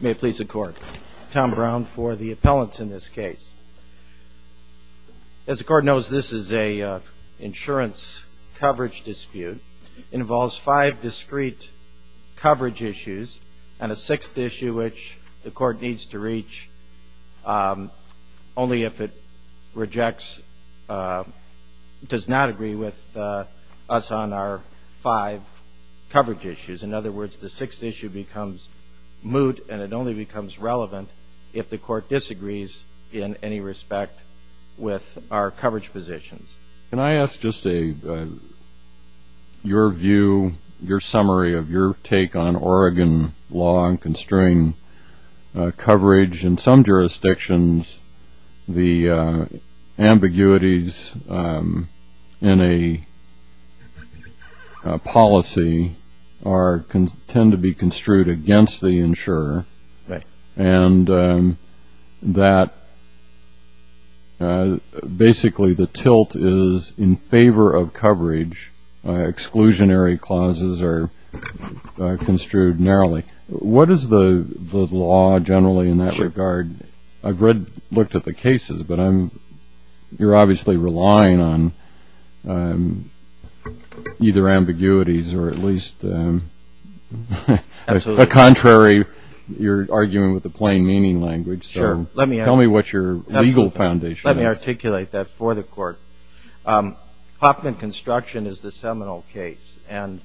May it please the Court. Tom Brown for the appellants in this case. As the Court knows, this is an insurance coverage dispute. It involves five discrete coverage issues and a sixth issue which the Court needs to reach only if it rejects, does not agree with us on our five coverage issues. In other words, the sixth issue becomes moot and it only becomes relevant if the Court disagrees in any respect with our coverage positions. Can I ask just your view, your summary of your take on Oregon law on constrained coverage? In some jurisdictions, the ambiguities in a policy tend to be construed against the insurer and that basically the tilt is in favor of coverage. Exclusionary clauses are construed narrowly. What is the law generally in that regard? I've read, looked at the cases, but you're obviously relying on either ambiguities or at least the contrary. You're arguing with the plain meaning language, so tell me what your legal foundation is. Let me articulate that for the Court. Hoffman construction is the seminal case and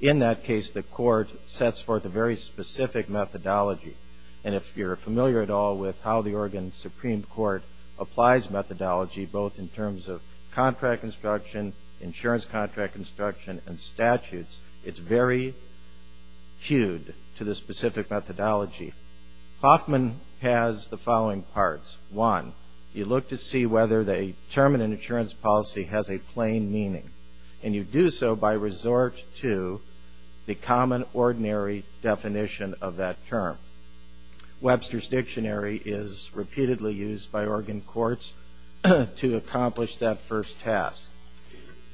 in that case the Court sets forth a very specific methodology. And if you're familiar at all with how the Oregon Supreme Court applies methodology, both in terms of contract construction, insurance contract construction, and statutes, it's very cued to the specific methodology. Hoffman has the following parts. One, you look to see whether the term in an insurance policy has a plain meaning. And you do so by resort to the common ordinary definition of that term. Webster's Dictionary is repeatedly used by Oregon courts to accomplish that first task.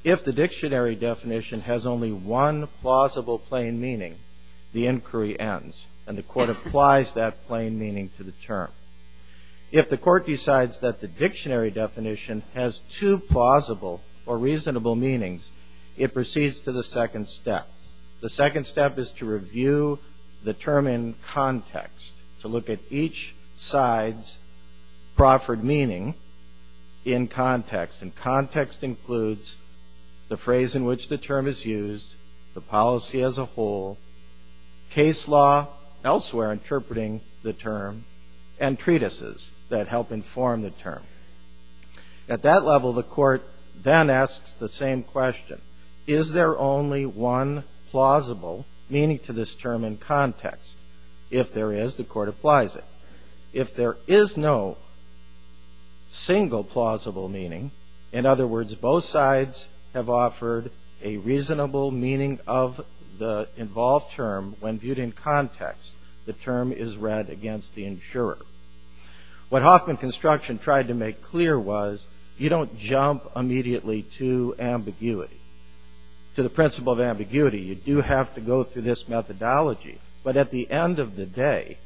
If the dictionary definition has only one plausible plain meaning, the inquiry ends and the court applies that plain meaning to the term. If the court decides that the dictionary definition has two plausible or reasonable meanings, it proceeds to the second step. The second step is to review the term in context, to look at each side's proffered meaning in context. And context includes the phrase in which the term is used, the policy as a whole, case law elsewhere interpreting the term, and treatises that help inform the term. At that level, the court then asks the same question. Is there only one plausible meaning to this term in context? If there is, the court applies it. If there is no single plausible meaning, in other words, both sides have offered a reasonable meaning of the involved term when viewed in context, the term is read against the insurer. What Hoffman Construction tried to make clear was you don't jump immediately to ambiguity, to the principle of ambiguity. You do have to go through this methodology. But at the end of the day,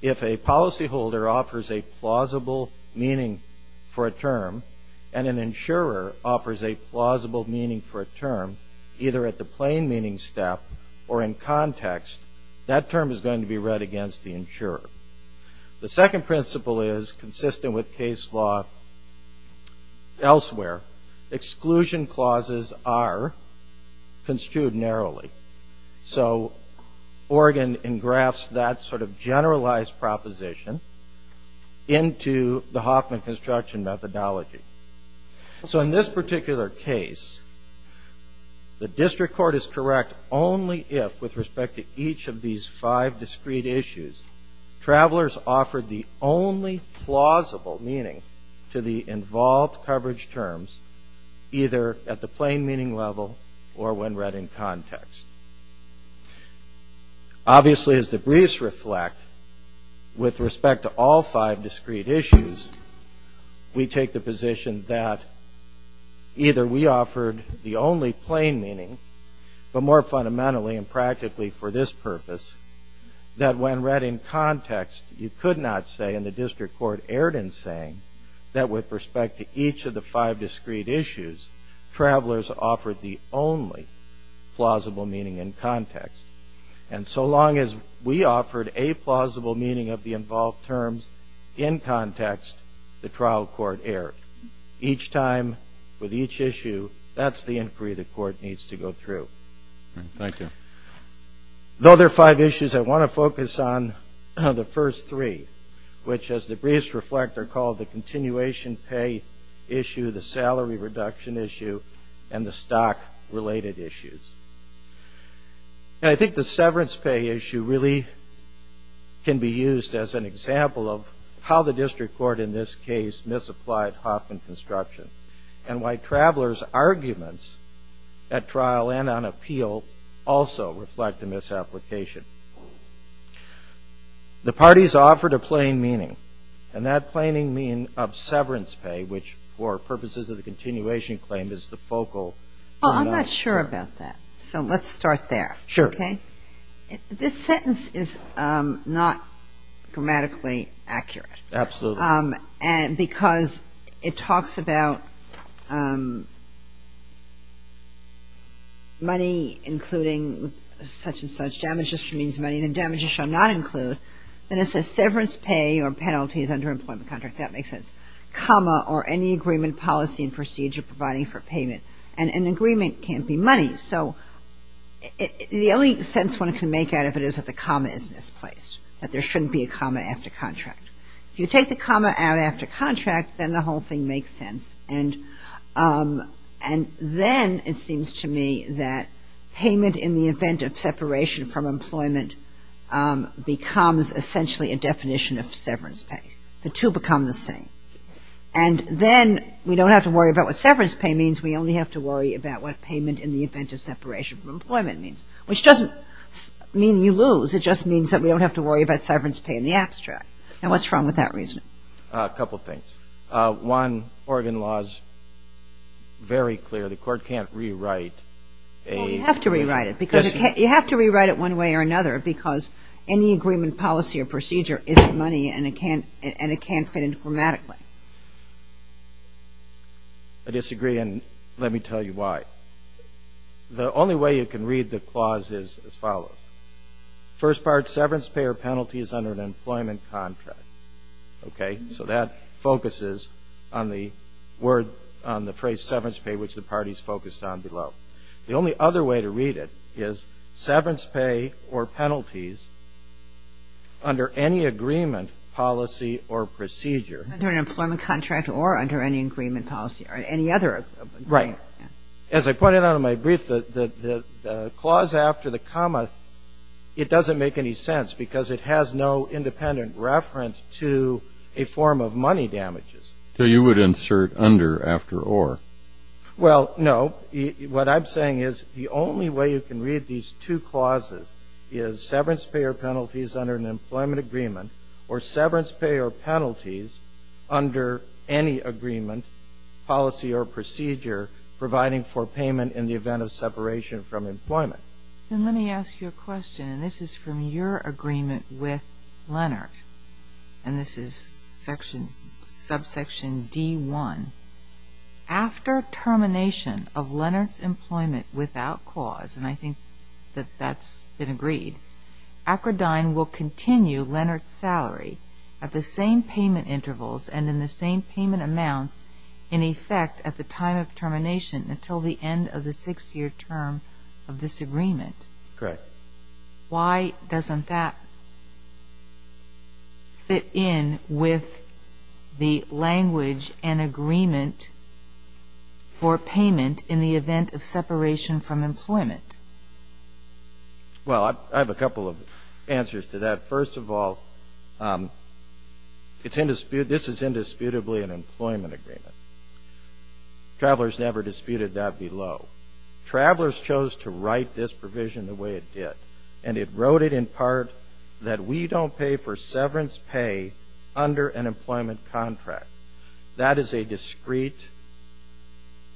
if a policyholder offers a plausible meaning for a term and an insurer offers a plausible meaning for a term, either at the plain meaning step or in context, that term is going to be read against the insurer. The second principle is consistent with case law elsewhere. Exclusion clauses are construed narrowly. So Oregon engrafts that sort of generalized proposition into the Hoffman Construction methodology. So in this particular case, the district court is correct only if, with respect to each of these five discrete issues, travelers offered the only plausible meaning to the involved coverage terms, either at the plain meaning level or when read in context. Obviously, as the briefs reflect, with respect to all five discrete issues, we take the position that either we offered the only plain meaning, but more fundamentally and practically for this purpose, that when read in context, you could not say, and the district court erred in saying, that with respect to each of the five discrete issues, travelers offered the only plausible meaning in context. And so long as we offered a plausible meaning of the involved terms in context, the trial court erred. Each time, with each issue, that's the inquiry the court needs to go through. Though there are five issues, I want to focus on the first three, which, as the briefs reflect, are called the continuation pay issue, the salary reduction issue, and the stock-related issues. And I think the severance pay issue really can be used as an example of how the district court, in this case, misapplied Hoffman Construction, and why travelers' arguments at trial and on appeal also reflect the misapplication. The parties offered a plain meaning, and that plain meaning of severance pay, which, for purposes of the continuation claim, is the focal point. Well, I'm not sure about that, so let's start there. This sentence is not grammatically accurate. Absolutely. Because it talks about money including such and such. Damages means money, and damages shall not include. Then it says severance pay or penalties under employment contract. That makes sense. And an agreement can't be money, so the only sense one can make out of it is that the comma is misplaced, that there shouldn't be a comma after contract. If you take the comma out after contract, then the whole thing makes sense. And then it seems to me that payment in the event of separation from employment becomes essentially a definition of severance pay. The two become the same. And then we don't have to worry about what severance pay means. We only have to worry about what payment in the event of separation from employment means, which doesn't mean you lose. It just means that we don't have to worry about severance pay in the abstract. And what's wrong with that reasoning? A couple things. One, Oregon law is very clear. The Court can't rewrite a question. The first part, severance pay or penalties under an employment contract. So that focuses on the phrase severance pay, which the parties focused on below. The only other way to read it is severance pay or penalties under any agreement, policy, or procedure. Under an employment contract or under any agreement policy or any other agreement. As I pointed out in my brief, the clause after the comma, it doesn't make any sense because it has no independent reference to a form of money damages. So you would insert under after or. Well, no. What I'm saying is the only way you can read these two clauses is severance pay or penalties under an employment agreement or severance pay or penalties under any agreement, policy, or procedure providing for payment in the event of separation from employment. Then let me ask you a question, and this is from your agreement with Leonard. And this is subsection D1. After termination of Leonard's employment without cause, and I think that that's been agreed, Akrodine will continue Leonard's salary at the same payment intervals and in the same payment amounts in effect at the time of termination until the end of the six-year term of this agreement. Why doesn't that fit in with the language and agreement for payment in the event of separation from employment? Well, I have a couple of answers to that. First of all, this is indisputably an employment agreement. Travelers never disputed that below. Travelers chose to write this provision the way it did. And it wrote it in part that we don't pay for severance pay under an employment contract. That is a discrete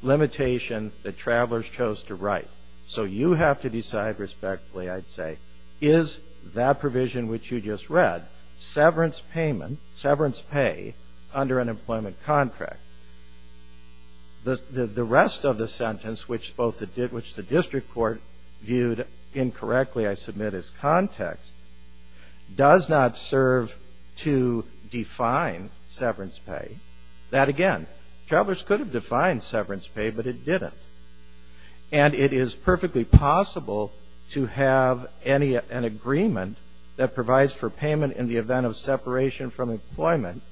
limitation that travelers chose to write. So you have to decide respectfully, I'd say, is that provision which you just read, severance payment, severance pay under an employment contract. The rest of the sentence, which the district court viewed incorrectly, I submit as context, does not serve to define severance pay. That again, travelers could have defined severance pay, but it didn't. And it is perfectly possible to have an agreement that provides for payment in the event of separation from employment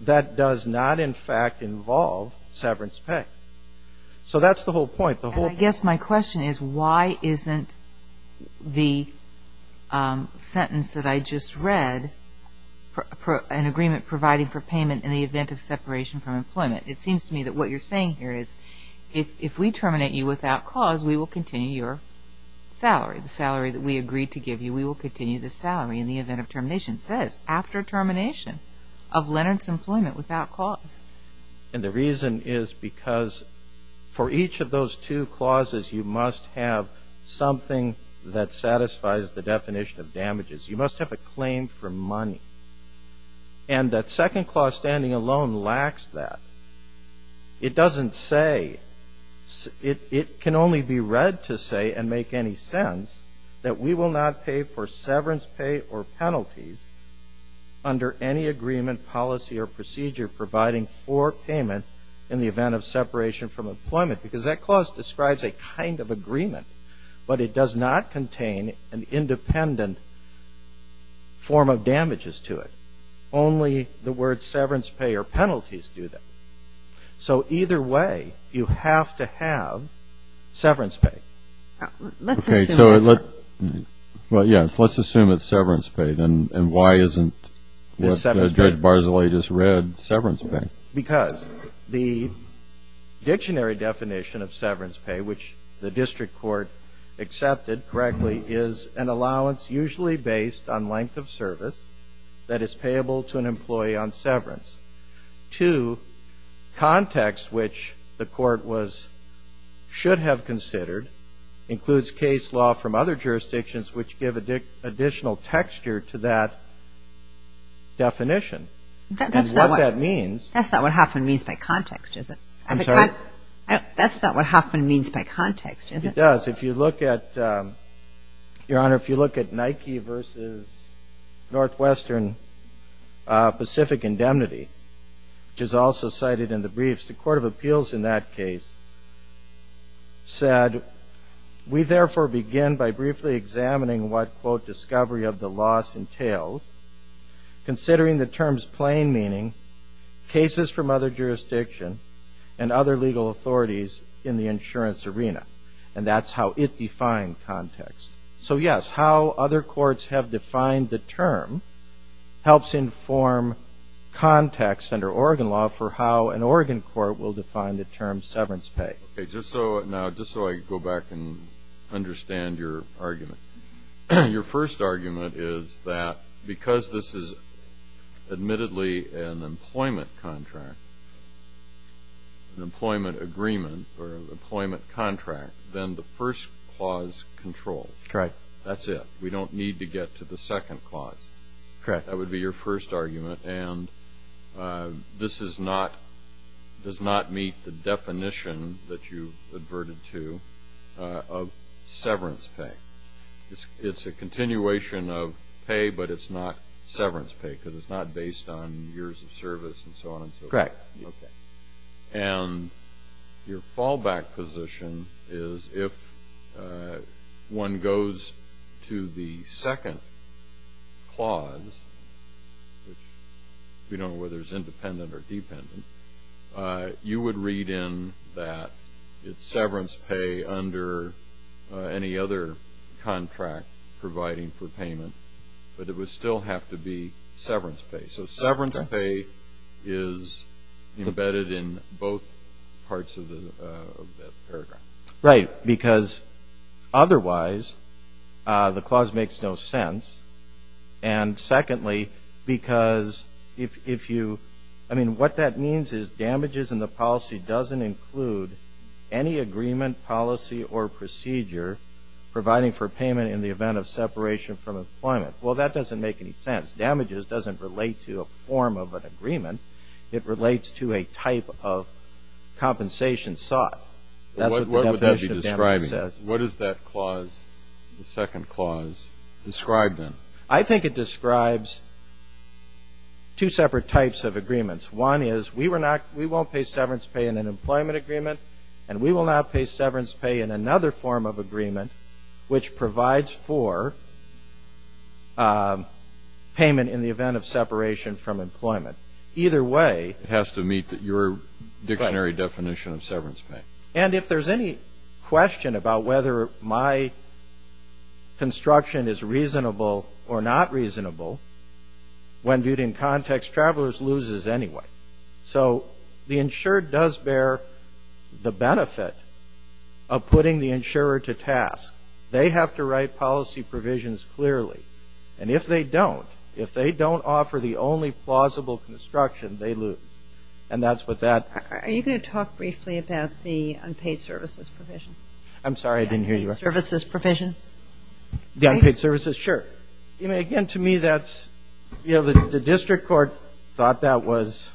that does not, in fact, involve severance pay. So that's the whole point. And I guess my question is, why isn't the sentence that I just read an agreement providing for payment in the event of separation from employment? It seems to me that what you're saying here is if we terminate you without cause, we will continue your salary. The salary that we agreed to give you, we will continue the salary in the event of termination. It says after termination of Leonard's employment without cause. And the reason is because for each of those two clauses, you must have something that satisfies the definition of damages. You must have a claim for money. And that second clause standing alone lacks that. It doesn't say, it can only be read to say and make any sense that we will not pay for severance pay or penalties under any agreement, policy or procedure providing for payment in the event of separation from employment. Because that clause describes a kind of agreement. It doesn't have any form of damages to it. Only the word severance pay or penalties do that. So either way, you have to have severance pay. Let's assume it's severance pay. And why isn't what Judge Barzilay just read severance pay? Because the dictionary definition of severance pay, which the district court accepted correctly, is an allowance usually based on length of service that is payable to an employee on severance. Two, context which the court was, should have considered includes case law from other jurisdictions which give additional texture to that definition. And what that means. That's not what Hoffman means by context, is it? I'm sorry? That's not what Hoffman means by context, is it? It does. Your Honor, if you look at Nike versus Northwestern Pacific Indemnity, which is also cited in the briefs, the court of appeals in that case said, we therefore begin by briefly examining what, quote, discovery of the loss entails, considering the terms plain meaning cases from other jurisdiction and other legal authorities in the insurance arena. And that's how it defined context. So yes, how other courts have defined the term helps inform context under Oregon law for how an Oregon court will define the term severance pay. Okay, just so I go back and understand your argument. Your first argument is that because this is admittedly an employment contract, an employment agreement or employment contract, then the first clause controls. Correct. That's it. We don't need to get to the second clause. Correct. That would be your first argument. And this does not meet the definition that you've adverted to of severance pay. It's a continuation of pay, but it's not severance pay, because it's not based on years of service and so on and so forth. Correct. And your fallback position is if one goes to the second clause, which we don't know whether it's independent or dependent, you would read in that it's severance pay under any other contract providing for payment, but it would still have to be severance pay. So severance pay is embedded in both parts of that paragraph. Right, because otherwise the clause makes no sense. And secondly, because if you – I mean, what that means is damages in the policy doesn't include any agreement, policy or procedure providing for payment in the event of separation from employment. Well, that doesn't make any sense. Damages doesn't relate to a form of an agreement. It relates to a type of compensation sought. That's what the definition of damages says. What does that clause, the second clause, describe then? I think it describes two separate types of agreements. One is we won't pay severance pay in an employment agreement, and we will not pay severance pay in another form of agreement, which provides for payment in the event of separation from employment. Either way. It has to meet your dictionary definition of severance pay. And if there's any question about whether my construction is reasonable or not reasonable, when viewed in context, Travelers loses anyway. So the insured does bear the benefit of putting the insurer to task. They have to write policy provisions clearly. And if they don't, if they don't offer the only plausible construction, they lose. And that's what that. Are you going to talk briefly about the unpaid services provision? I'm sorry, I didn't hear you. The unpaid services provision? The unpaid services? Sure. Again, to me that's, you know, the district court thought that was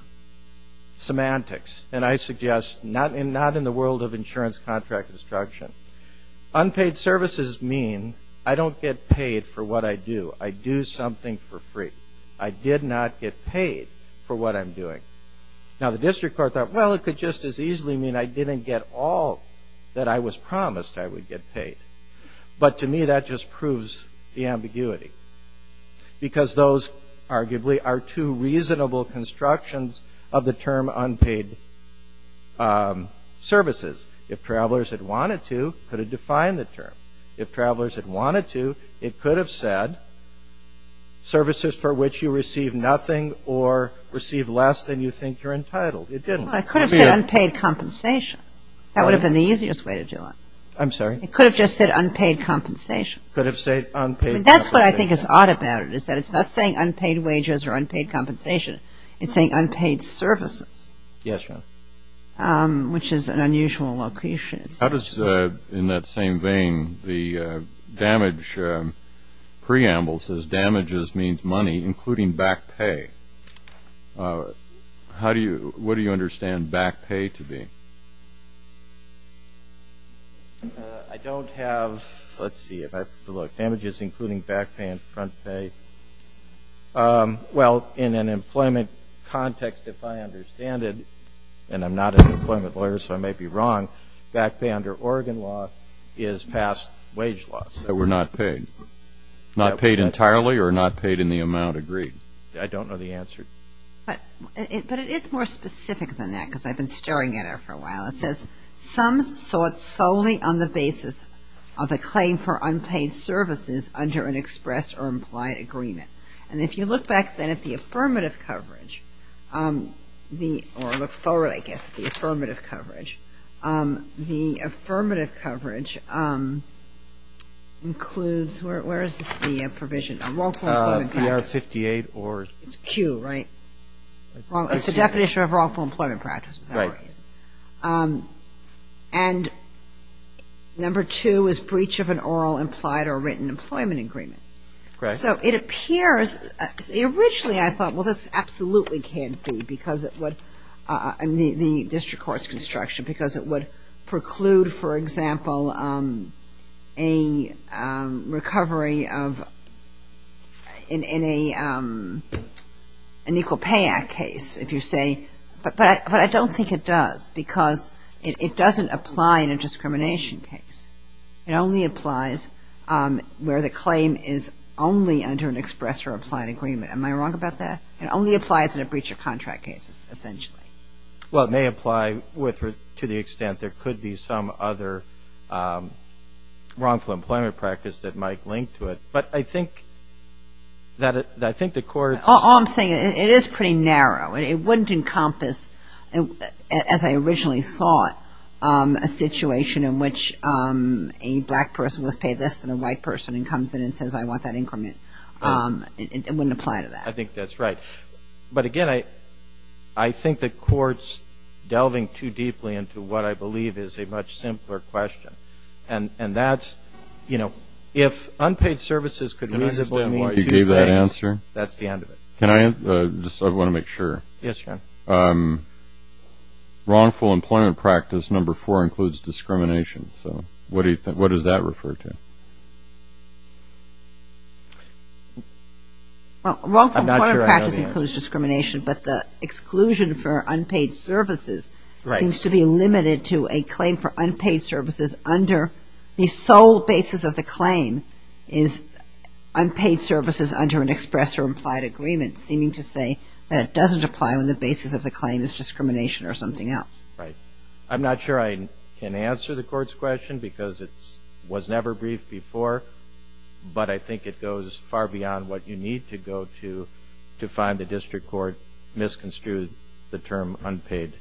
semantics, and I suggest not in the world of insurance contract construction. Unpaid services mean I don't get paid for what I do. I do something for free. I did not get paid for what I'm doing. Now, the district court thought, well, it could just as easily mean I didn't get all that I was promised I would get paid. But to me that just proves the ambiguity, because those arguably are two reasonable constructions of the term unpaid services. If travelers had wanted to, could it define the term? If travelers had wanted to, it could have said services for which you receive nothing or receive less than you think you're entitled. It didn't. It could have said unpaid compensation. That would have been the easiest way to do it. I'm sorry? It could have just said unpaid compensation. Could have said unpaid compensation. That's what I think is odd about it, is that it's not saying unpaid wages or unpaid compensation. It's saying unpaid services. Yes, Your Honor. Which is an unusual location. How does, in that same vein, the damage preamble says damages means money, including back pay. What do you understand back pay to be? I don't have, let's see, if I have to look. Damages including back pay and front pay. Well, in an employment context, if I understand it, and I'm not an employment lawyer so I may be wrong, back pay under Oregon law is past wage laws. So we're not paid. Not paid entirely or not paid in the amount agreed? I don't know the answer. But it is more specific than that because I've been staring at it for a while. It says, Some sought solely on the basis of a claim for unpaid services under an express or implied agreement. And if you look back then at the affirmative coverage, or look forward, I guess, at the affirmative coverage, the affirmative coverage includes, where is this the provision? PR 58 or? It's Q, right? It's the definition of wrongful employment practice. And number two is breach of an oral, implied, or written employment agreement. So it appears, originally I thought, well, this absolutely can't be because it would, the district court's construction, because it would preclude, for example, a recovery of, in an Equal Pay Act case, if you say, but I don't think it does because it doesn't apply in a discrimination case. It only applies where the claim is only under an express or implied agreement. Am I wrong about that? It only applies in a breach of contract case, essentially. Well, it may apply to the extent there could be some other wrongful employment practice that might link to it. But I think that the court. All I'm saying, it is pretty narrow. It wouldn't encompass, as I originally thought, a situation in which a black person was paid less than a white person and comes in and says, I want that increment. It wouldn't apply to that. I think that's right. But, again, I think the court's delving too deeply into what I believe is a much simpler question. And that's, you know, if unpaid services could reasonably mean two things. Can I understand why you gave that answer? That's the end of it. I want to make sure. Yes, John. Wrongful employment practice number four includes discrimination. So what does that refer to? Well, wrongful employment practice includes discrimination, but the exclusion for unpaid services seems to be limited to a claim for unpaid services under the sole basis of the claim is unpaid services under an express or implied agreement seeming to say that it doesn't apply when the basis of the claim is discrimination or something else. Right. I'm not sure I can answer the court's question because it was never briefed before, but I think it goes far beyond what you need to go to to find the district court misconstrued the term unpaid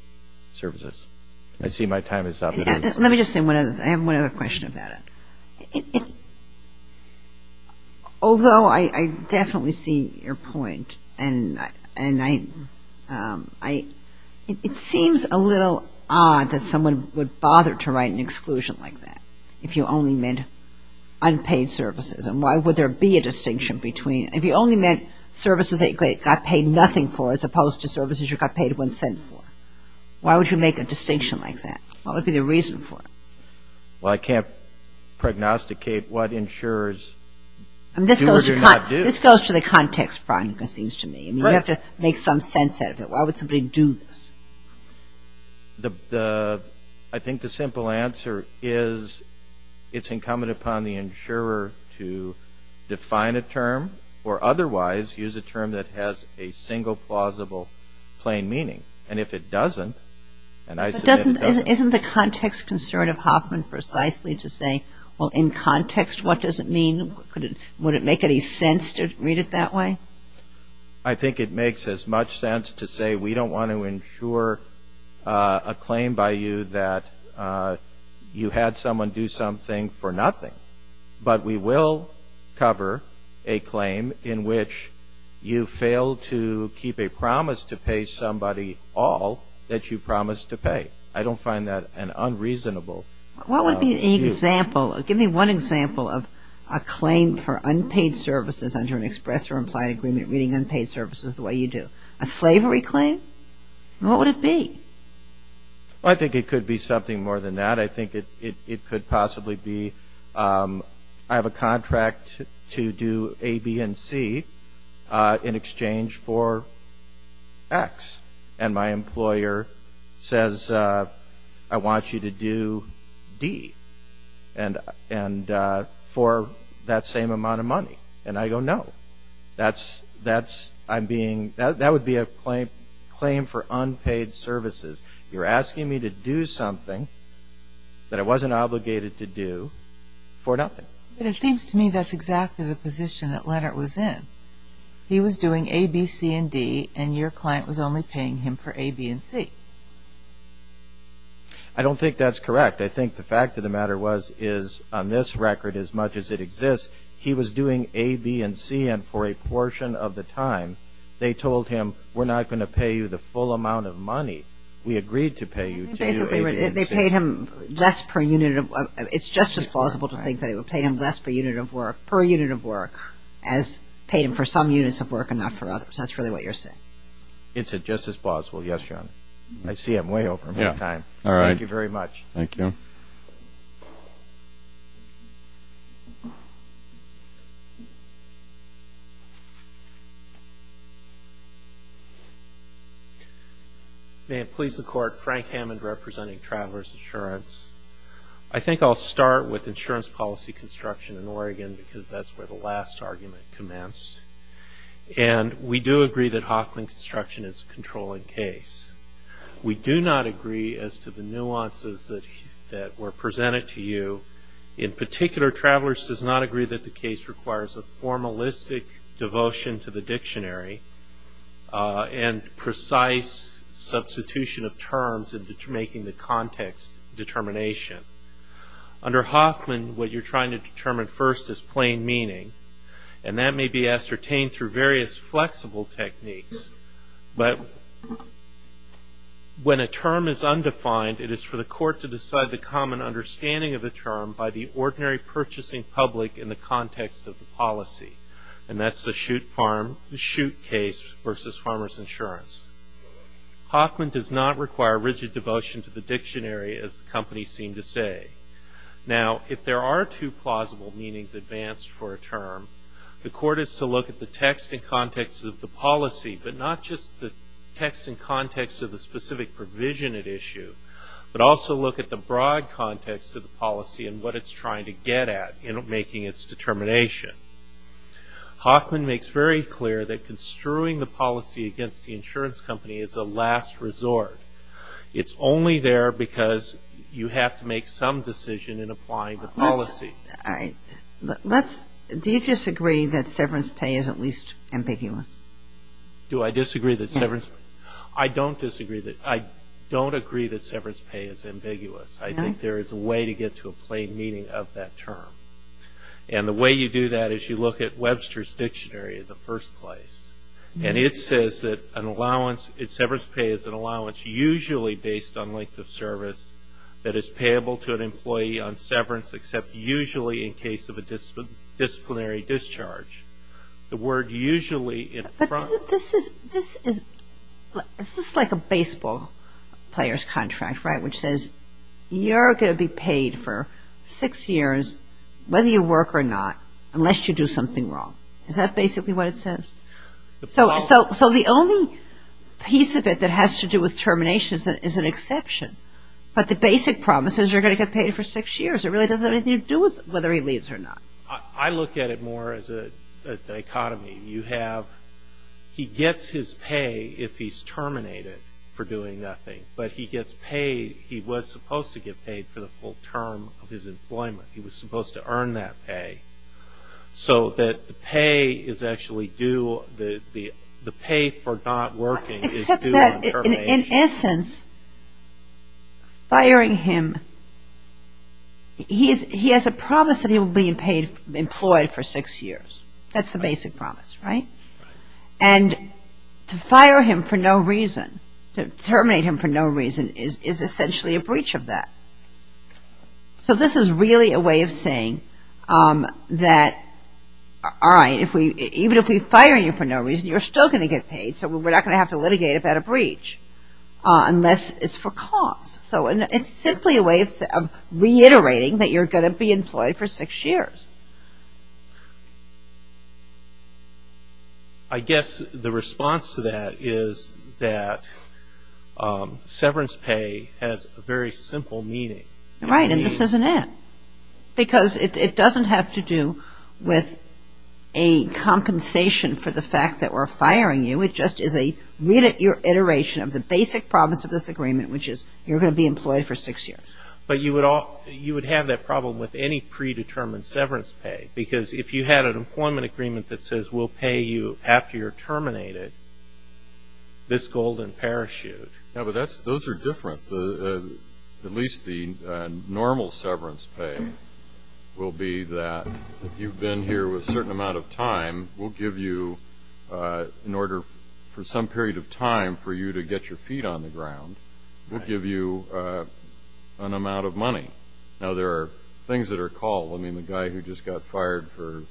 services. I see my time is up. Let me just say one other thing. I have one other question about it. Although I definitely see your point, it seems a little odd that someone would bother to write an exclusion like that if you only meant unpaid services. And why would there be a distinction between – if you only meant services that you got paid nothing for as opposed to services you got paid one cent for, why would you make a distinction like that? What would be the reason for it? Well, I can't prognosticate what insurers do or not do. This goes to the context, Brian, it seems to me. You have to make some sense out of it. Why would somebody do this? I think the simple answer is it's incumbent upon the insurer to define a term or otherwise use a term that has a single plausible plain meaning. And if it doesn't, and I submit it doesn't. But isn't the context concerned of Hoffman precisely to say, well, in context what does it mean? Would it make any sense to read it that way? I think it makes as much sense to say we don't want to insure a claim by you that you had someone do something for nothing. But we will cover a claim in which you failed to keep a promise to pay somebody all that you promised to pay. I don't find that an unreasonable view. What would be an example? Give me one example of a claim for unpaid services under an express or implied agreement reading unpaid services the way you do. A slavery claim? What would it be? I think it could be something more than that. I think it could possibly be I have a contract to do A, B, and C in exchange for X. And my employer says I want you to do D for that same amount of money. And I go, no. That would be a claim for unpaid services. You're asking me to do something that I wasn't obligated to do for nothing. But it seems to me that's exactly the position that Leonard was in. He was doing A, B, C, and D, and your client was only paying him for A, B, and C. I don't think that's correct. I think the fact of the matter was is on this record as much as it exists, he was doing A, B, and C, and for a portion of the time they told him, we're not going to pay you the full amount of money. We agreed to pay you to do A, B, and C. They paid him less per unit of work. It's just as plausible to think they would pay him less per unit of work as paid him for some units of work and not for others. That's really what you're saying. It's just as plausible. Yes, Your Honor. I see I'm way over my time. Thank you very much. Thank you. May it please the Court. Frank Hammond representing Travelers Insurance. I think I'll start with insurance policy construction in Oregon because that's where the last argument commenced. And we do agree that Hoffman construction is a controlling case. We do not agree as to the nuances that were presented to you. In particular, Travelers does not agree that the case requires a formalistic devotion to the dictionary and precise substitution of terms in making the context determination. Under Hoffman, what you're trying to determine first is plain meaning, and that may be ascertained through various flexible techniques. But when a term is undefined, it is for the court to decide the common understanding of the term by the ordinary purchasing public in the context of the policy, and that's the shoot case versus Farmers Insurance. Hoffman does not require rigid devotion to the dictionary, as the company seemed to say. Now, if there are two plausible meanings advanced for a term, the court is to look at the text and context of the policy, but not just the text and context of the specific provision at issue, but also look at the broad context of the policy and what it's trying to get at in making its determination. Hoffman makes very clear that construing the policy against the insurance company is a last resort. It's only there because you have to make some decision in applying the policy. Do you disagree that severance pay is at least ambiguous? Do I disagree that severance pay? I don't agree that severance pay is ambiguous. I think there is a way to get to a plain meaning of that term. And the way you do that is you look at Webster's Dictionary in the first place, and it says that severance pay is an allowance usually based on length of service that is payable to an employee on severance, except usually in case of a disciplinary discharge. The word usually in front of it. This is like a baseball player's contract, right, which says you're going to be paid for six years, whether you work or not, unless you do something wrong. Is that basically what it says? So the only piece of it that has to do with termination is an exception. But the basic promise is you're going to get paid for six years. It really doesn't have anything to do with whether he leaves or not. I look at it more as a dichotomy. He gets his pay if he's terminated for doing nothing, but he was supposed to get paid for the full term of his employment. He was supposed to earn that pay. So the pay for not working is due on termination. Except that, in essence, firing him, he has a promise that he will be employed for six years. That's the basic promise, right? And to fire him for no reason, to terminate him for no reason, is essentially a breach of that. So this is really a way of saying that, all right, even if we fire you for no reason, you're still going to get paid, so we're not going to have to litigate about a breach unless it's for cause. So it's simply a way of reiterating that you're going to be employed for six years. I guess the response to that is that severance pay has a very simple meaning. Right, and this isn't it. Because it doesn't have to do with a compensation for the fact that we're firing you. It just is a reiteration of the basic promise of this agreement, which is you're going to be employed for six years. But you would have that problem with any predetermined severance pay, because if you had an employment agreement that says we'll pay you after you're terminated, this golden parachute. Yeah, but those are different. At least the normal severance pay will be that if you've been here a certain amount of time, we'll give you, in order for some period of time for you to get your feet on the ground, we'll give you an amount of money. Now, there are things that are called. I mean, the guy who just got fired for,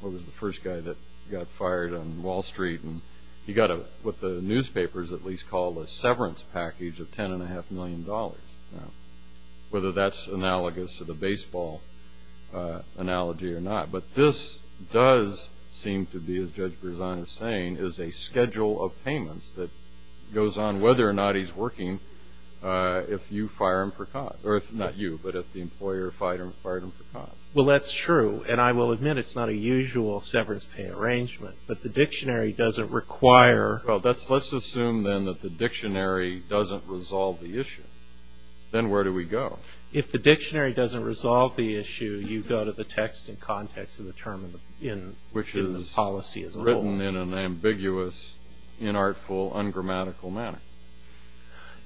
what was the first guy that got fired on Wall Street, he got what the newspapers at least call a severance package of $10.5 million, whether that's analogous to the baseball analogy or not. But this does seem to be, as Judge Berzano is saying, is a schedule of payments that goes on whether or not he's working if you fire him for cause. Not you, but if the employer fired him for cause. Well, that's true. And I will admit it's not a usual severance pay arrangement. But the dictionary doesn't require. Well, let's assume then that the dictionary doesn't resolve the issue. Then where do we go? If the dictionary doesn't resolve the issue, you go to the text and context of the term in the policy as a whole. Which is written in an ambiguous, inartful, ungrammatical manner.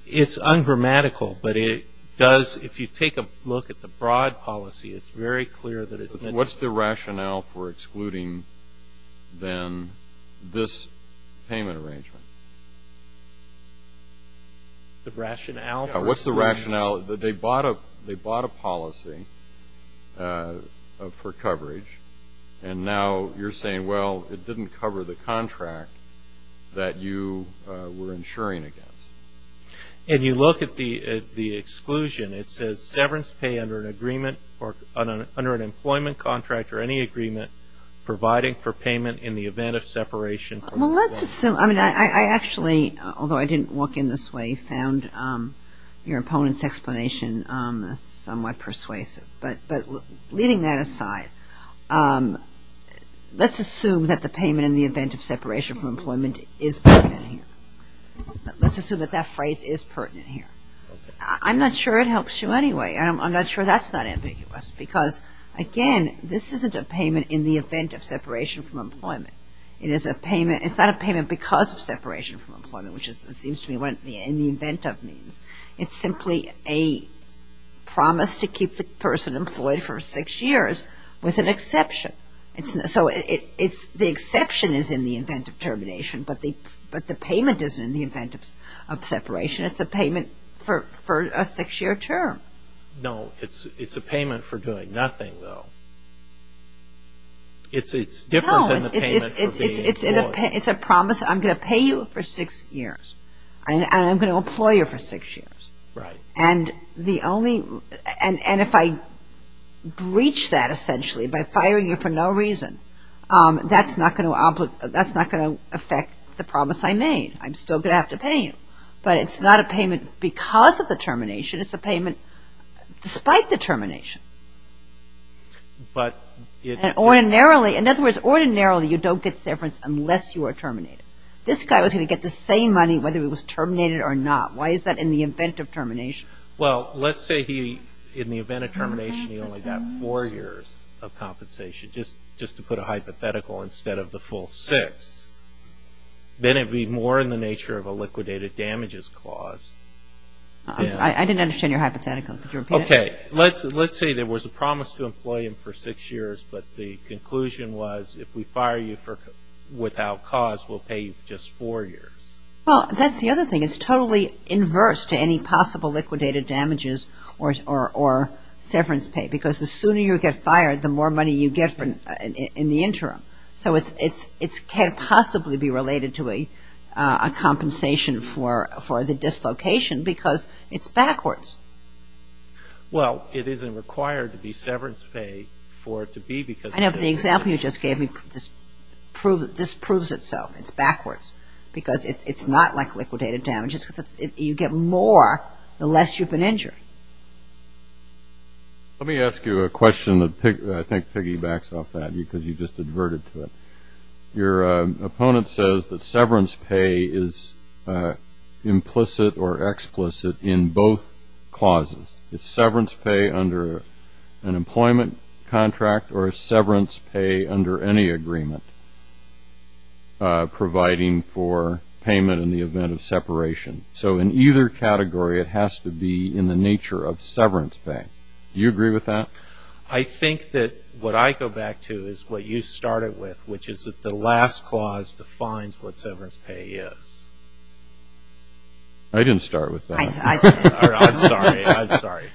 It's ungrammatical, but it does, if you take a look at the broad policy, it's very clear that it's. What's the rationale for excluding then this payment arrangement? The rationale? What's the rationale? They bought a policy for coverage, and now you're saying, well, it didn't cover the contract that you were insuring against. If you look at the exclusion, it says, severance pay under an employment contract or any agreement providing for payment in the event of separation. Well, let's assume. I mean, I actually, although I didn't walk in this way, found your opponent's explanation somewhat persuasive. But leaving that aside, let's assume that the payment in the event of separation from employment is pertinent here. Let's assume that that phrase is pertinent here. I'm not sure it helps you anyway, and I'm not sure that's not ambiguous. Because, again, this isn't a payment in the event of separation from employment. It is a payment. It's not a payment because of separation from employment, which it seems to me in the event of means. It's simply a promise to keep the person employed for six years with an exception. So the exception is in the event of termination, but the payment isn't in the event of separation. It's a payment for a six-year term. No, it's a payment for doing nothing, though. It's different than the payment for being employed. No, it's a promise. I'm going to pay you for six years, and I'm going to employ you for six years. Right. And if I breach that, essentially, by firing you for no reason, that's not going to affect the promise I made. I'm still going to have to pay you. But it's not a payment because of the termination. It's a payment despite the termination. Ordinarily, in other words, ordinarily you don't get severance unless you are terminated. This guy was going to get the same money whether he was terminated or not. Why is that in the event of termination? Well, let's say he, in the event of termination, he only got four years of compensation, just to put a hypothetical, instead of the full six. Then it would be more in the nature of a liquidated damages clause. I didn't understand your hypothetical. Could you repeat it? Okay. Let's say there was a promise to employ him for six years, but the conclusion was if we fire you without cause, we'll pay you just four years. Well, that's the other thing. It's totally inverse to any possible liquidated damages or severance pay, so it can't possibly be related to a compensation for the dislocation because it's backwards. Well, it isn't required to be severance pay for it to be because of dislocation. I know, but the example you just gave me just proves it so. It's backwards because it's not like liquidated damages. You get more the less you've been injured. Let me ask you a question that I think piggybacks off that because you just adverted to it. Your opponent says that severance pay is implicit or explicit in both clauses. It's severance pay under an employment contract or severance pay under any agreement providing for payment in the event of separation. So in either category, it has to be in the nature of severance pay. Do you agree with that? I think that what I go back to is what you started with, which is that the last clause defines what severance pay is. I didn't start with that. I'm sorry.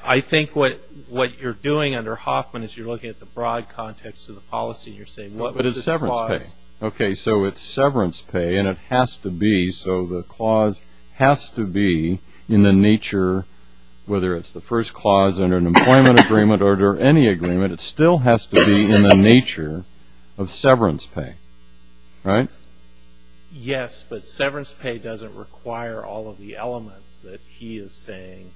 I think what you're doing under Hoffman is you're looking at the broad context of the policy and you're saying, what is this clause? Okay, so it's severance pay and it has to be, so the clause has to be in the nature, whether it's the first clause under an employment agreement or under any agreement, it still has to be in the nature of severance pay, right? Yes, but severance pay doesn't require all of the elements that he is saying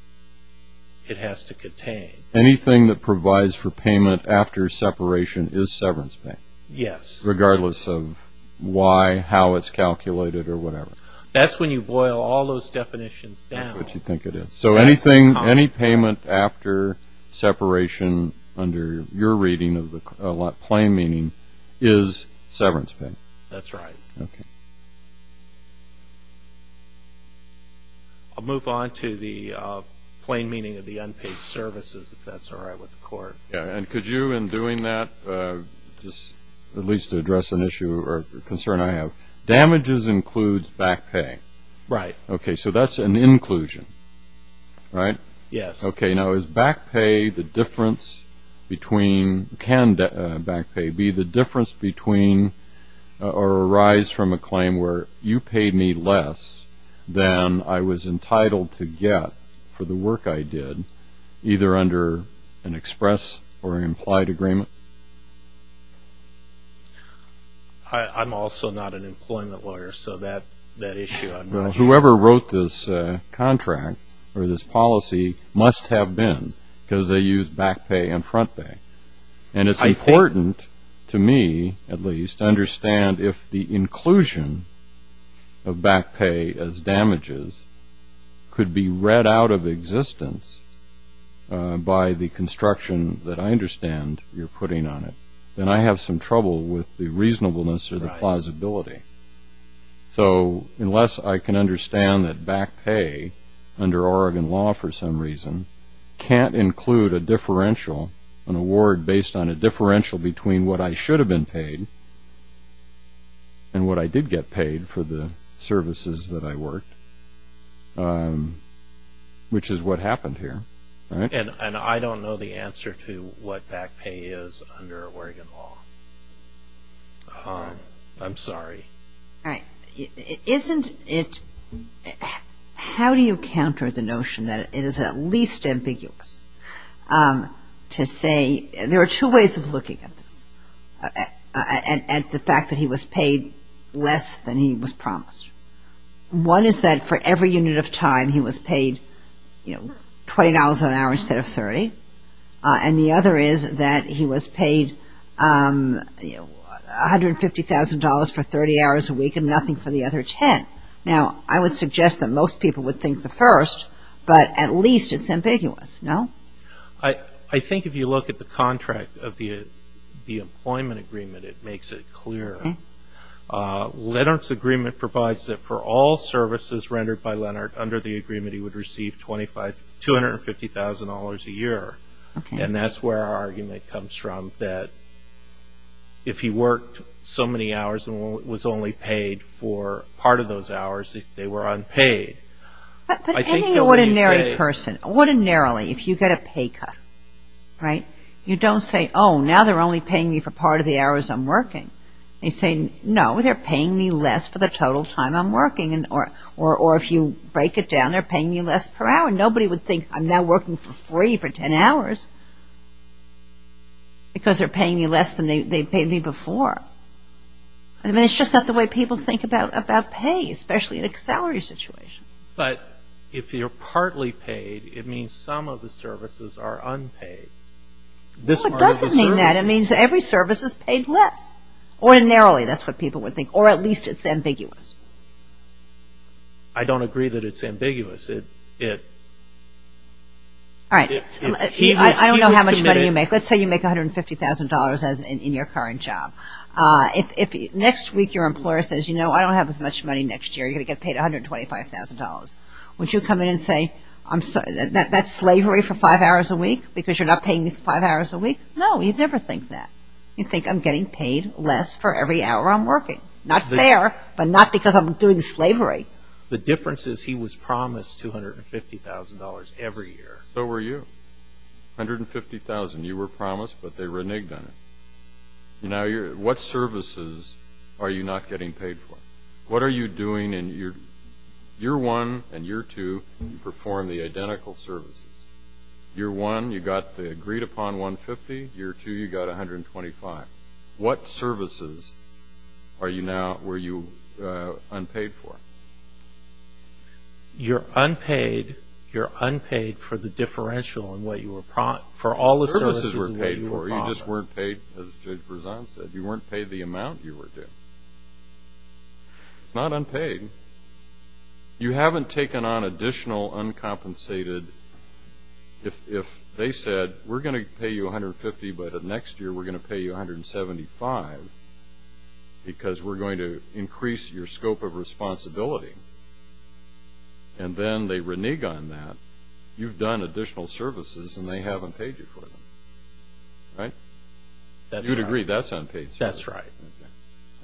it has to contain. Anything that provides for payment after separation is severance pay? Yes. Regardless of why, how it's calculated, or whatever? That's when you boil all those definitions down. That's what you think it is. So any payment after separation under your reading of the plain meaning is severance pay? That's right. I'll move on to the plain meaning of the unpaid services, if that's all right with the Court. And could you, in doing that, just at least address an issue or concern I have. Damages includes back pay. Right. Okay, so that's an inclusion, right? Yes. Okay, now is back pay the difference between, can back pay be the difference between or arise from a claim where you paid me less than I was entitled to get for the work I did, either under an express or implied agreement? I'm also not an employment lawyer, so that issue I'm not sure. Whoever wrote this contract or this policy must have been because they used back pay and front pay. And it's important to me, at least, to understand if the inclusion of back pay as damages could be read out of existence by the construction that I understand you're putting on it, then I have some trouble with the reasonableness or the plausibility. So unless I can understand that back pay, under Oregon law for some reason, can't include a differential, an award based on a differential between what I should have been paid and what I did get paid for the services that I worked, which is what happened here. And I don't know the answer to what back pay is under Oregon law. I'm sorry. All right. Isn't it, how do you counter the notion that it is at least ambiguous to say, there are two ways of looking at this, at the fact that he was paid less than he was promised. One is that for every unit of time he was paid $20 an hour instead of $30. And the other is that he was paid $150,000 for 30 hours a week and nothing for the other 10. Now, I would suggest that most people would think the first, but at least it's ambiguous. No? I think if you look at the contract of the employment agreement, it makes it clear. Leonard's agreement provides that for all services rendered by Leonard, under the agreement he would receive $250,000 a year. And that's where our argument comes from, that if he worked so many hours and was only paid for part of those hours, they were unpaid. But any ordinary person, ordinarily, if you get a pay cut, right, you don't say, oh, now they're only paying me for part of the hours I'm working. You say, no, they're paying me less for the total time I'm working. Or if you break it down, they're paying me less per hour. Nobody would think I'm now working for free for 10 hours because they're paying me less than they paid me before. I mean, it's just not the way people think about pay, especially in a salary situation. But if you're partly paid, it means some of the services are unpaid. No, it doesn't mean that. It means every service is paid less. Ordinarily, that's what people would think, or at least it's ambiguous. I don't agree that it's ambiguous. All right. I don't know how much money you make. Let's say you make $150,000 in your current job. Next week your employer says, you know, I don't have as much money next year. You're going to get paid $125,000. Would you come in and say, that's slavery for five hours a week because you're not paying me five hours a week? No, you'd never think that. You'd think I'm getting paid less for every hour I'm working. Not fair, but not because I'm doing slavery. The difference is he was promised $250,000 every year. So were you. $150,000, you were promised, but they reneged on it. What services are you not getting paid for? What are you doing in year one and year two, you perform the identical services. Year one, you got the agreed upon $150,000. Year two, you got $125,000. What services were you unpaid for? You're unpaid for the differential in what you were promised. The services were paid for. You just weren't paid, as Judge Berzon said, you weren't paid the amount you were due. It's not unpaid. You haven't taken on additional uncompensated. If they said, we're going to pay you $150,000, but next year we're going to pay you $175,000 because we're going to increase your scope of responsibility, and then they renege on that, you've done additional services and they haven't paid you for them. Right? That's right. You'd agree that's unpaid services. That's right.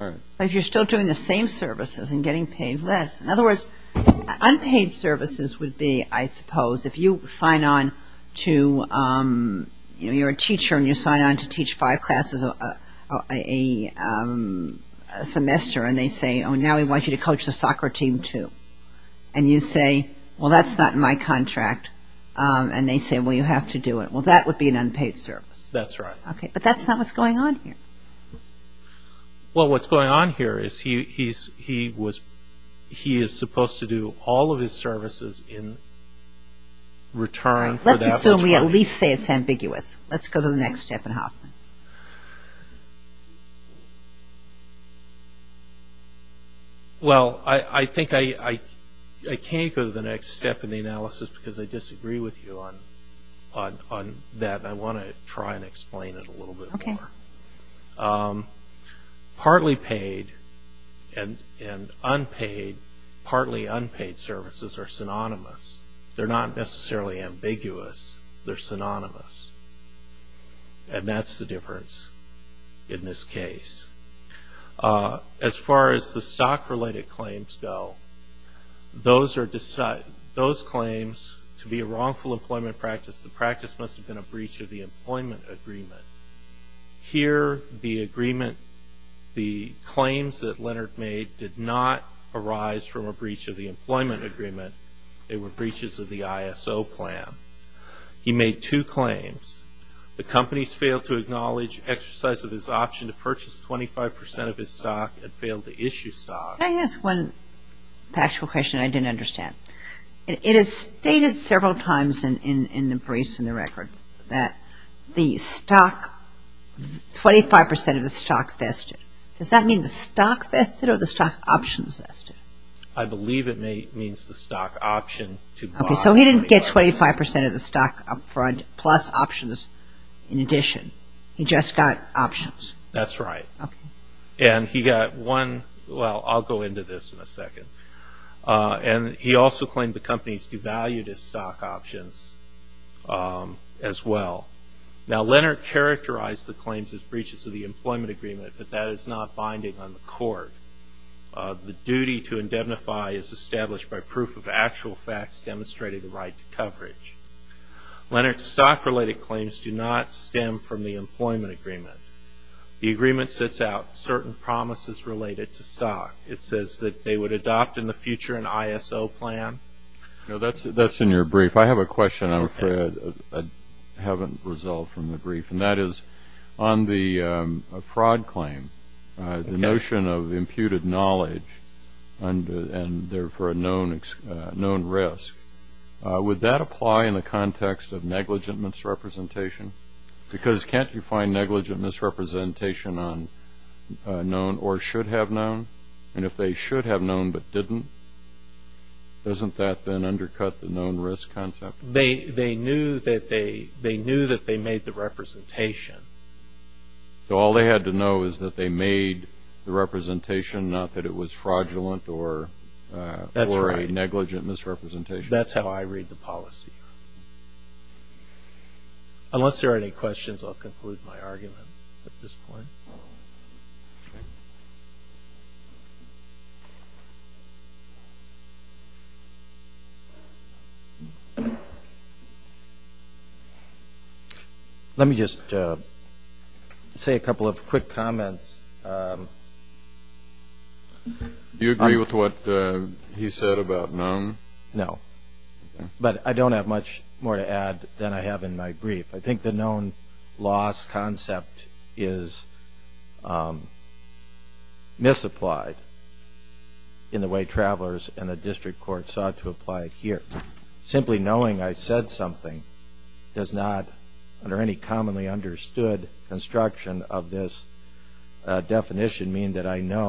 All right. But you're still doing the same services and getting paid less. In other words, unpaid services would be, I suppose, if you sign on to, you know, you're a teacher and you sign on to teach five classes a semester and they say, oh, now we want you to coach the soccer team too. And you say, well, that's not in my contract. And they say, well, you have to do it. Well, that would be an unpaid service. That's right. Okay. But that's not what's going on here. Well, what's going on here is he is supposed to do all of his services in return. Let's assume we at least say it's ambiguous. Let's go to the next step in Hoffman. Well, I think I can't go to the next step in the analysis because I disagree with you on that, and I want to try and explain it a little bit more. Partly paid and unpaid, partly unpaid services are synonymous. They're not necessarily ambiguous. They're synonymous. And that's the difference in this case. As far as the stock-related claims go, those claims to be a wrongful employment practice, the practice must have been a breach of the employment agreement. Here the agreement, the claims that Leonard made, did not arise from a breach of the employment agreement. They were breaches of the ISO plan. He made two claims. The companies failed to acknowledge exercise of his option to purchase 25% of his stock and failed to issue stock. Can I ask one factual question I didn't understand? It is stated several times in the briefs and the record that the stock, 25% of the stock vested. Does that mean the stock vested or the stock options vested? I believe it means the stock option to buy. Okay, so he didn't get 25% of the stock plus options in addition. He just got options. That's right. Okay. And he got one, well, I'll go into this in a second. And he also claimed the companies devalued his stock options as well. Now, Leonard characterized the claims as breaches of the employment agreement, but that is not binding on the court. The duty to indemnify is established by proof of actual facts demonstrating the right to coverage. Leonard's stock-related claims do not stem from the employment agreement. The agreement sets out certain promises related to stock. It says that they would adopt in the future an ISO plan. That's in your brief. I have a question I'm afraid I haven't resolved from the brief, and that is on the fraud claim, the notion of imputed knowledge and, therefore, a known risk. Would that apply in the context of negligent misrepresentation? Because can't you find negligent misrepresentation on known or should have known? And if they should have known but didn't, doesn't that then undercut the known risk concept? They knew that they made the representation. So all they had to know is that they made the representation, not that it was fraudulent or a negligent misrepresentation. That's right. That's how I read the policy. Thank you. Unless there are any questions, I'll conclude my argument at this point. Let me just say a couple of quick comments. Do you agree with what he said about known? No. But I don't have much more to add than I have in my brief. I think the known loss concept is misapplied in the way travelers and the district court sought to apply it here. Simply knowing I said something does not, under any commonly understood construction of this definition, you'd have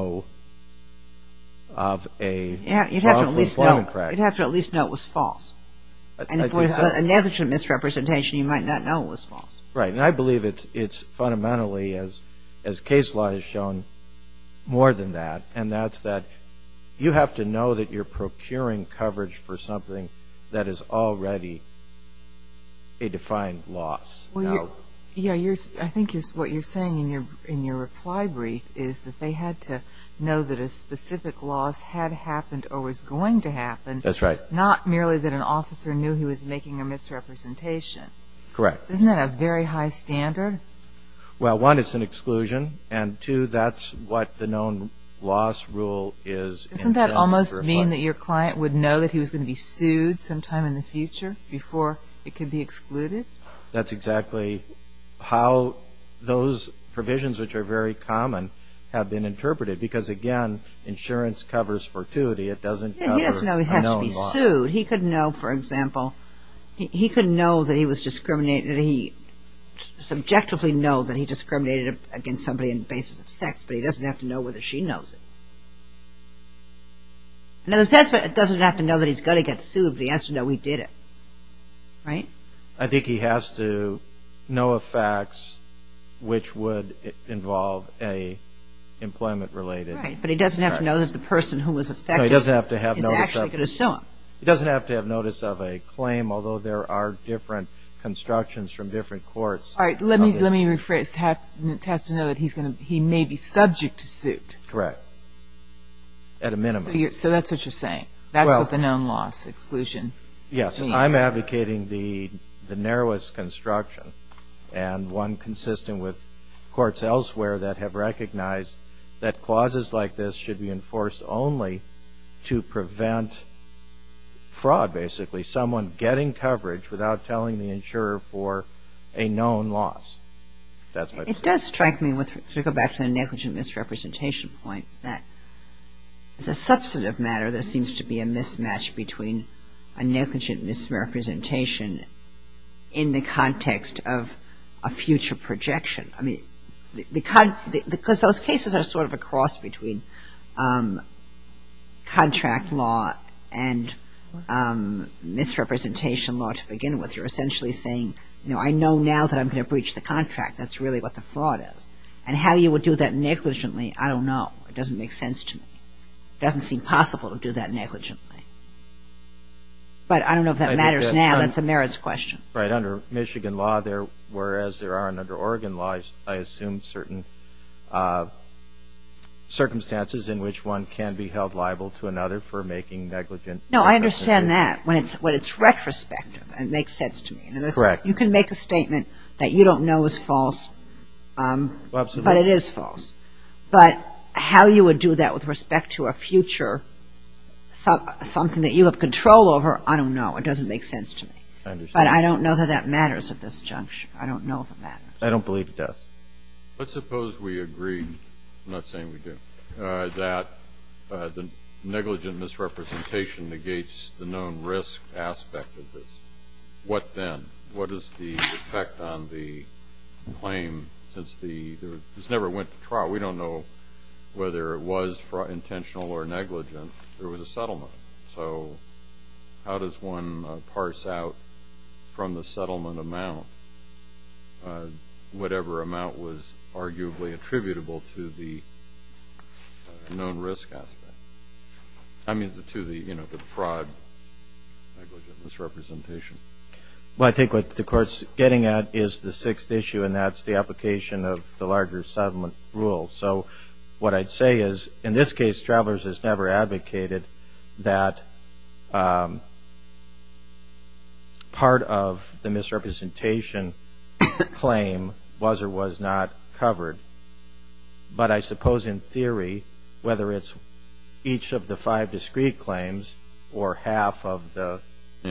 to at least know it was false. And if it was a negligent misrepresentation, you might not know it was false. Right. And I believe it's fundamentally, as case law has shown, more than that. And that's that you have to know that you're procuring coverage for something that is already a defined loss. I think what you're saying in your reply brief is that they had to know that a specific loss had happened or was going to happen. That's right. Not merely that an officer knew he was making a misrepresentation. Correct. Isn't that a very high standard? Well, one, it's an exclusion, and two, that's what the known loss rule is. Doesn't that almost mean that your client would know that he was going to be sued sometime in the future before it could be excluded? That's exactly how those provisions, which are very common, have been interpreted. Because, again, insurance covers fortuity. It doesn't cover a known loss. He doesn't know he has to be sued. He could know, for example, he could know that he was discriminated against. He could subjectively know that he discriminated against somebody on the basis of sex, but he doesn't have to know whether she knows it. In other words, it doesn't have to know that he's going to get sued, but he has to know he did it. Right? I think he has to know of facts which would involve an employment-related fact. Right, but he doesn't have to know that the person who was affected is actually going to sue him. He doesn't have to have notice of a claim, although there are different constructions from different courts. All right, let me rephrase. He has to know that he may be subject to suit. Correct, at a minimum. So that's what you're saying. That's what the known loss exclusion means. Yes, I'm advocating the narrowest construction and one consistent with courts elsewhere that have recognized that clauses like this should be enforced only to prevent fraud, basically, someone getting coverage without telling the insurer for a known loss. It does strike me, to go back to the negligent misrepresentation point, that as a substantive matter there seems to be a mismatch between a negligent misrepresentation in the context of a future projection. I mean, because those cases are sort of a cross between contract law and misrepresentation law to begin with. You're essentially saying, you know, I know now that I'm going to breach the contract. That's really what the fraud is. And how you would do that negligently, I don't know. It doesn't make sense to me. It doesn't seem possible to do that negligently. But I don't know if that matters now. That's a merits question. Right. Under Michigan law, whereas there are under Oregon law, I assume certain circumstances in which one can be held liable to another for making negligent misrepresentations. No, I understand that when it's retrospective. It makes sense to me. Correct. You can make a statement that you don't know is false, but it is false. But how you would do that with respect to a future, something that you have control over, I don't know. It doesn't make sense to me. I understand. But I don't know that that matters at this juncture. I don't know if it matters. I don't believe it does. Let's suppose we agree, I'm not saying we do, that the negligent misrepresentation negates the known risk aspect of this. What then? What is the effect on the claim since this never went to trial? We don't know whether it was intentional or negligent. There was a settlement. So how does one parse out from the settlement amount whatever amount was arguably attributable to the known risk aspect? I mean to the fraud negligent misrepresentation. Well, I think what the Court's getting at is the sixth issue, and that's the application of the larger settlement rule. So what I'd say is, in this case, Travelers has never advocated that part of the misrepresentation claim was or was not covered. But I suppose in theory, whether it's each of the five discrete claims or half of the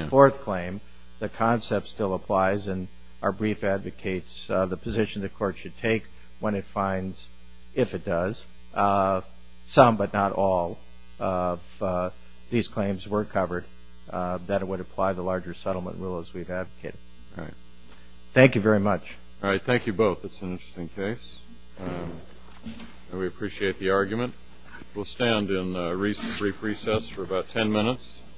fourth claim, the concept still applies, and our brief advocates the position the Court should take when it finds, if it does, some but not all of these claims were covered, that it would apply the larger settlement rule as we've advocated. All right. Thank you very much. All right. Thank you both. That's an interesting case. We appreciate the argument. We'll stand in brief recess for about ten minutes.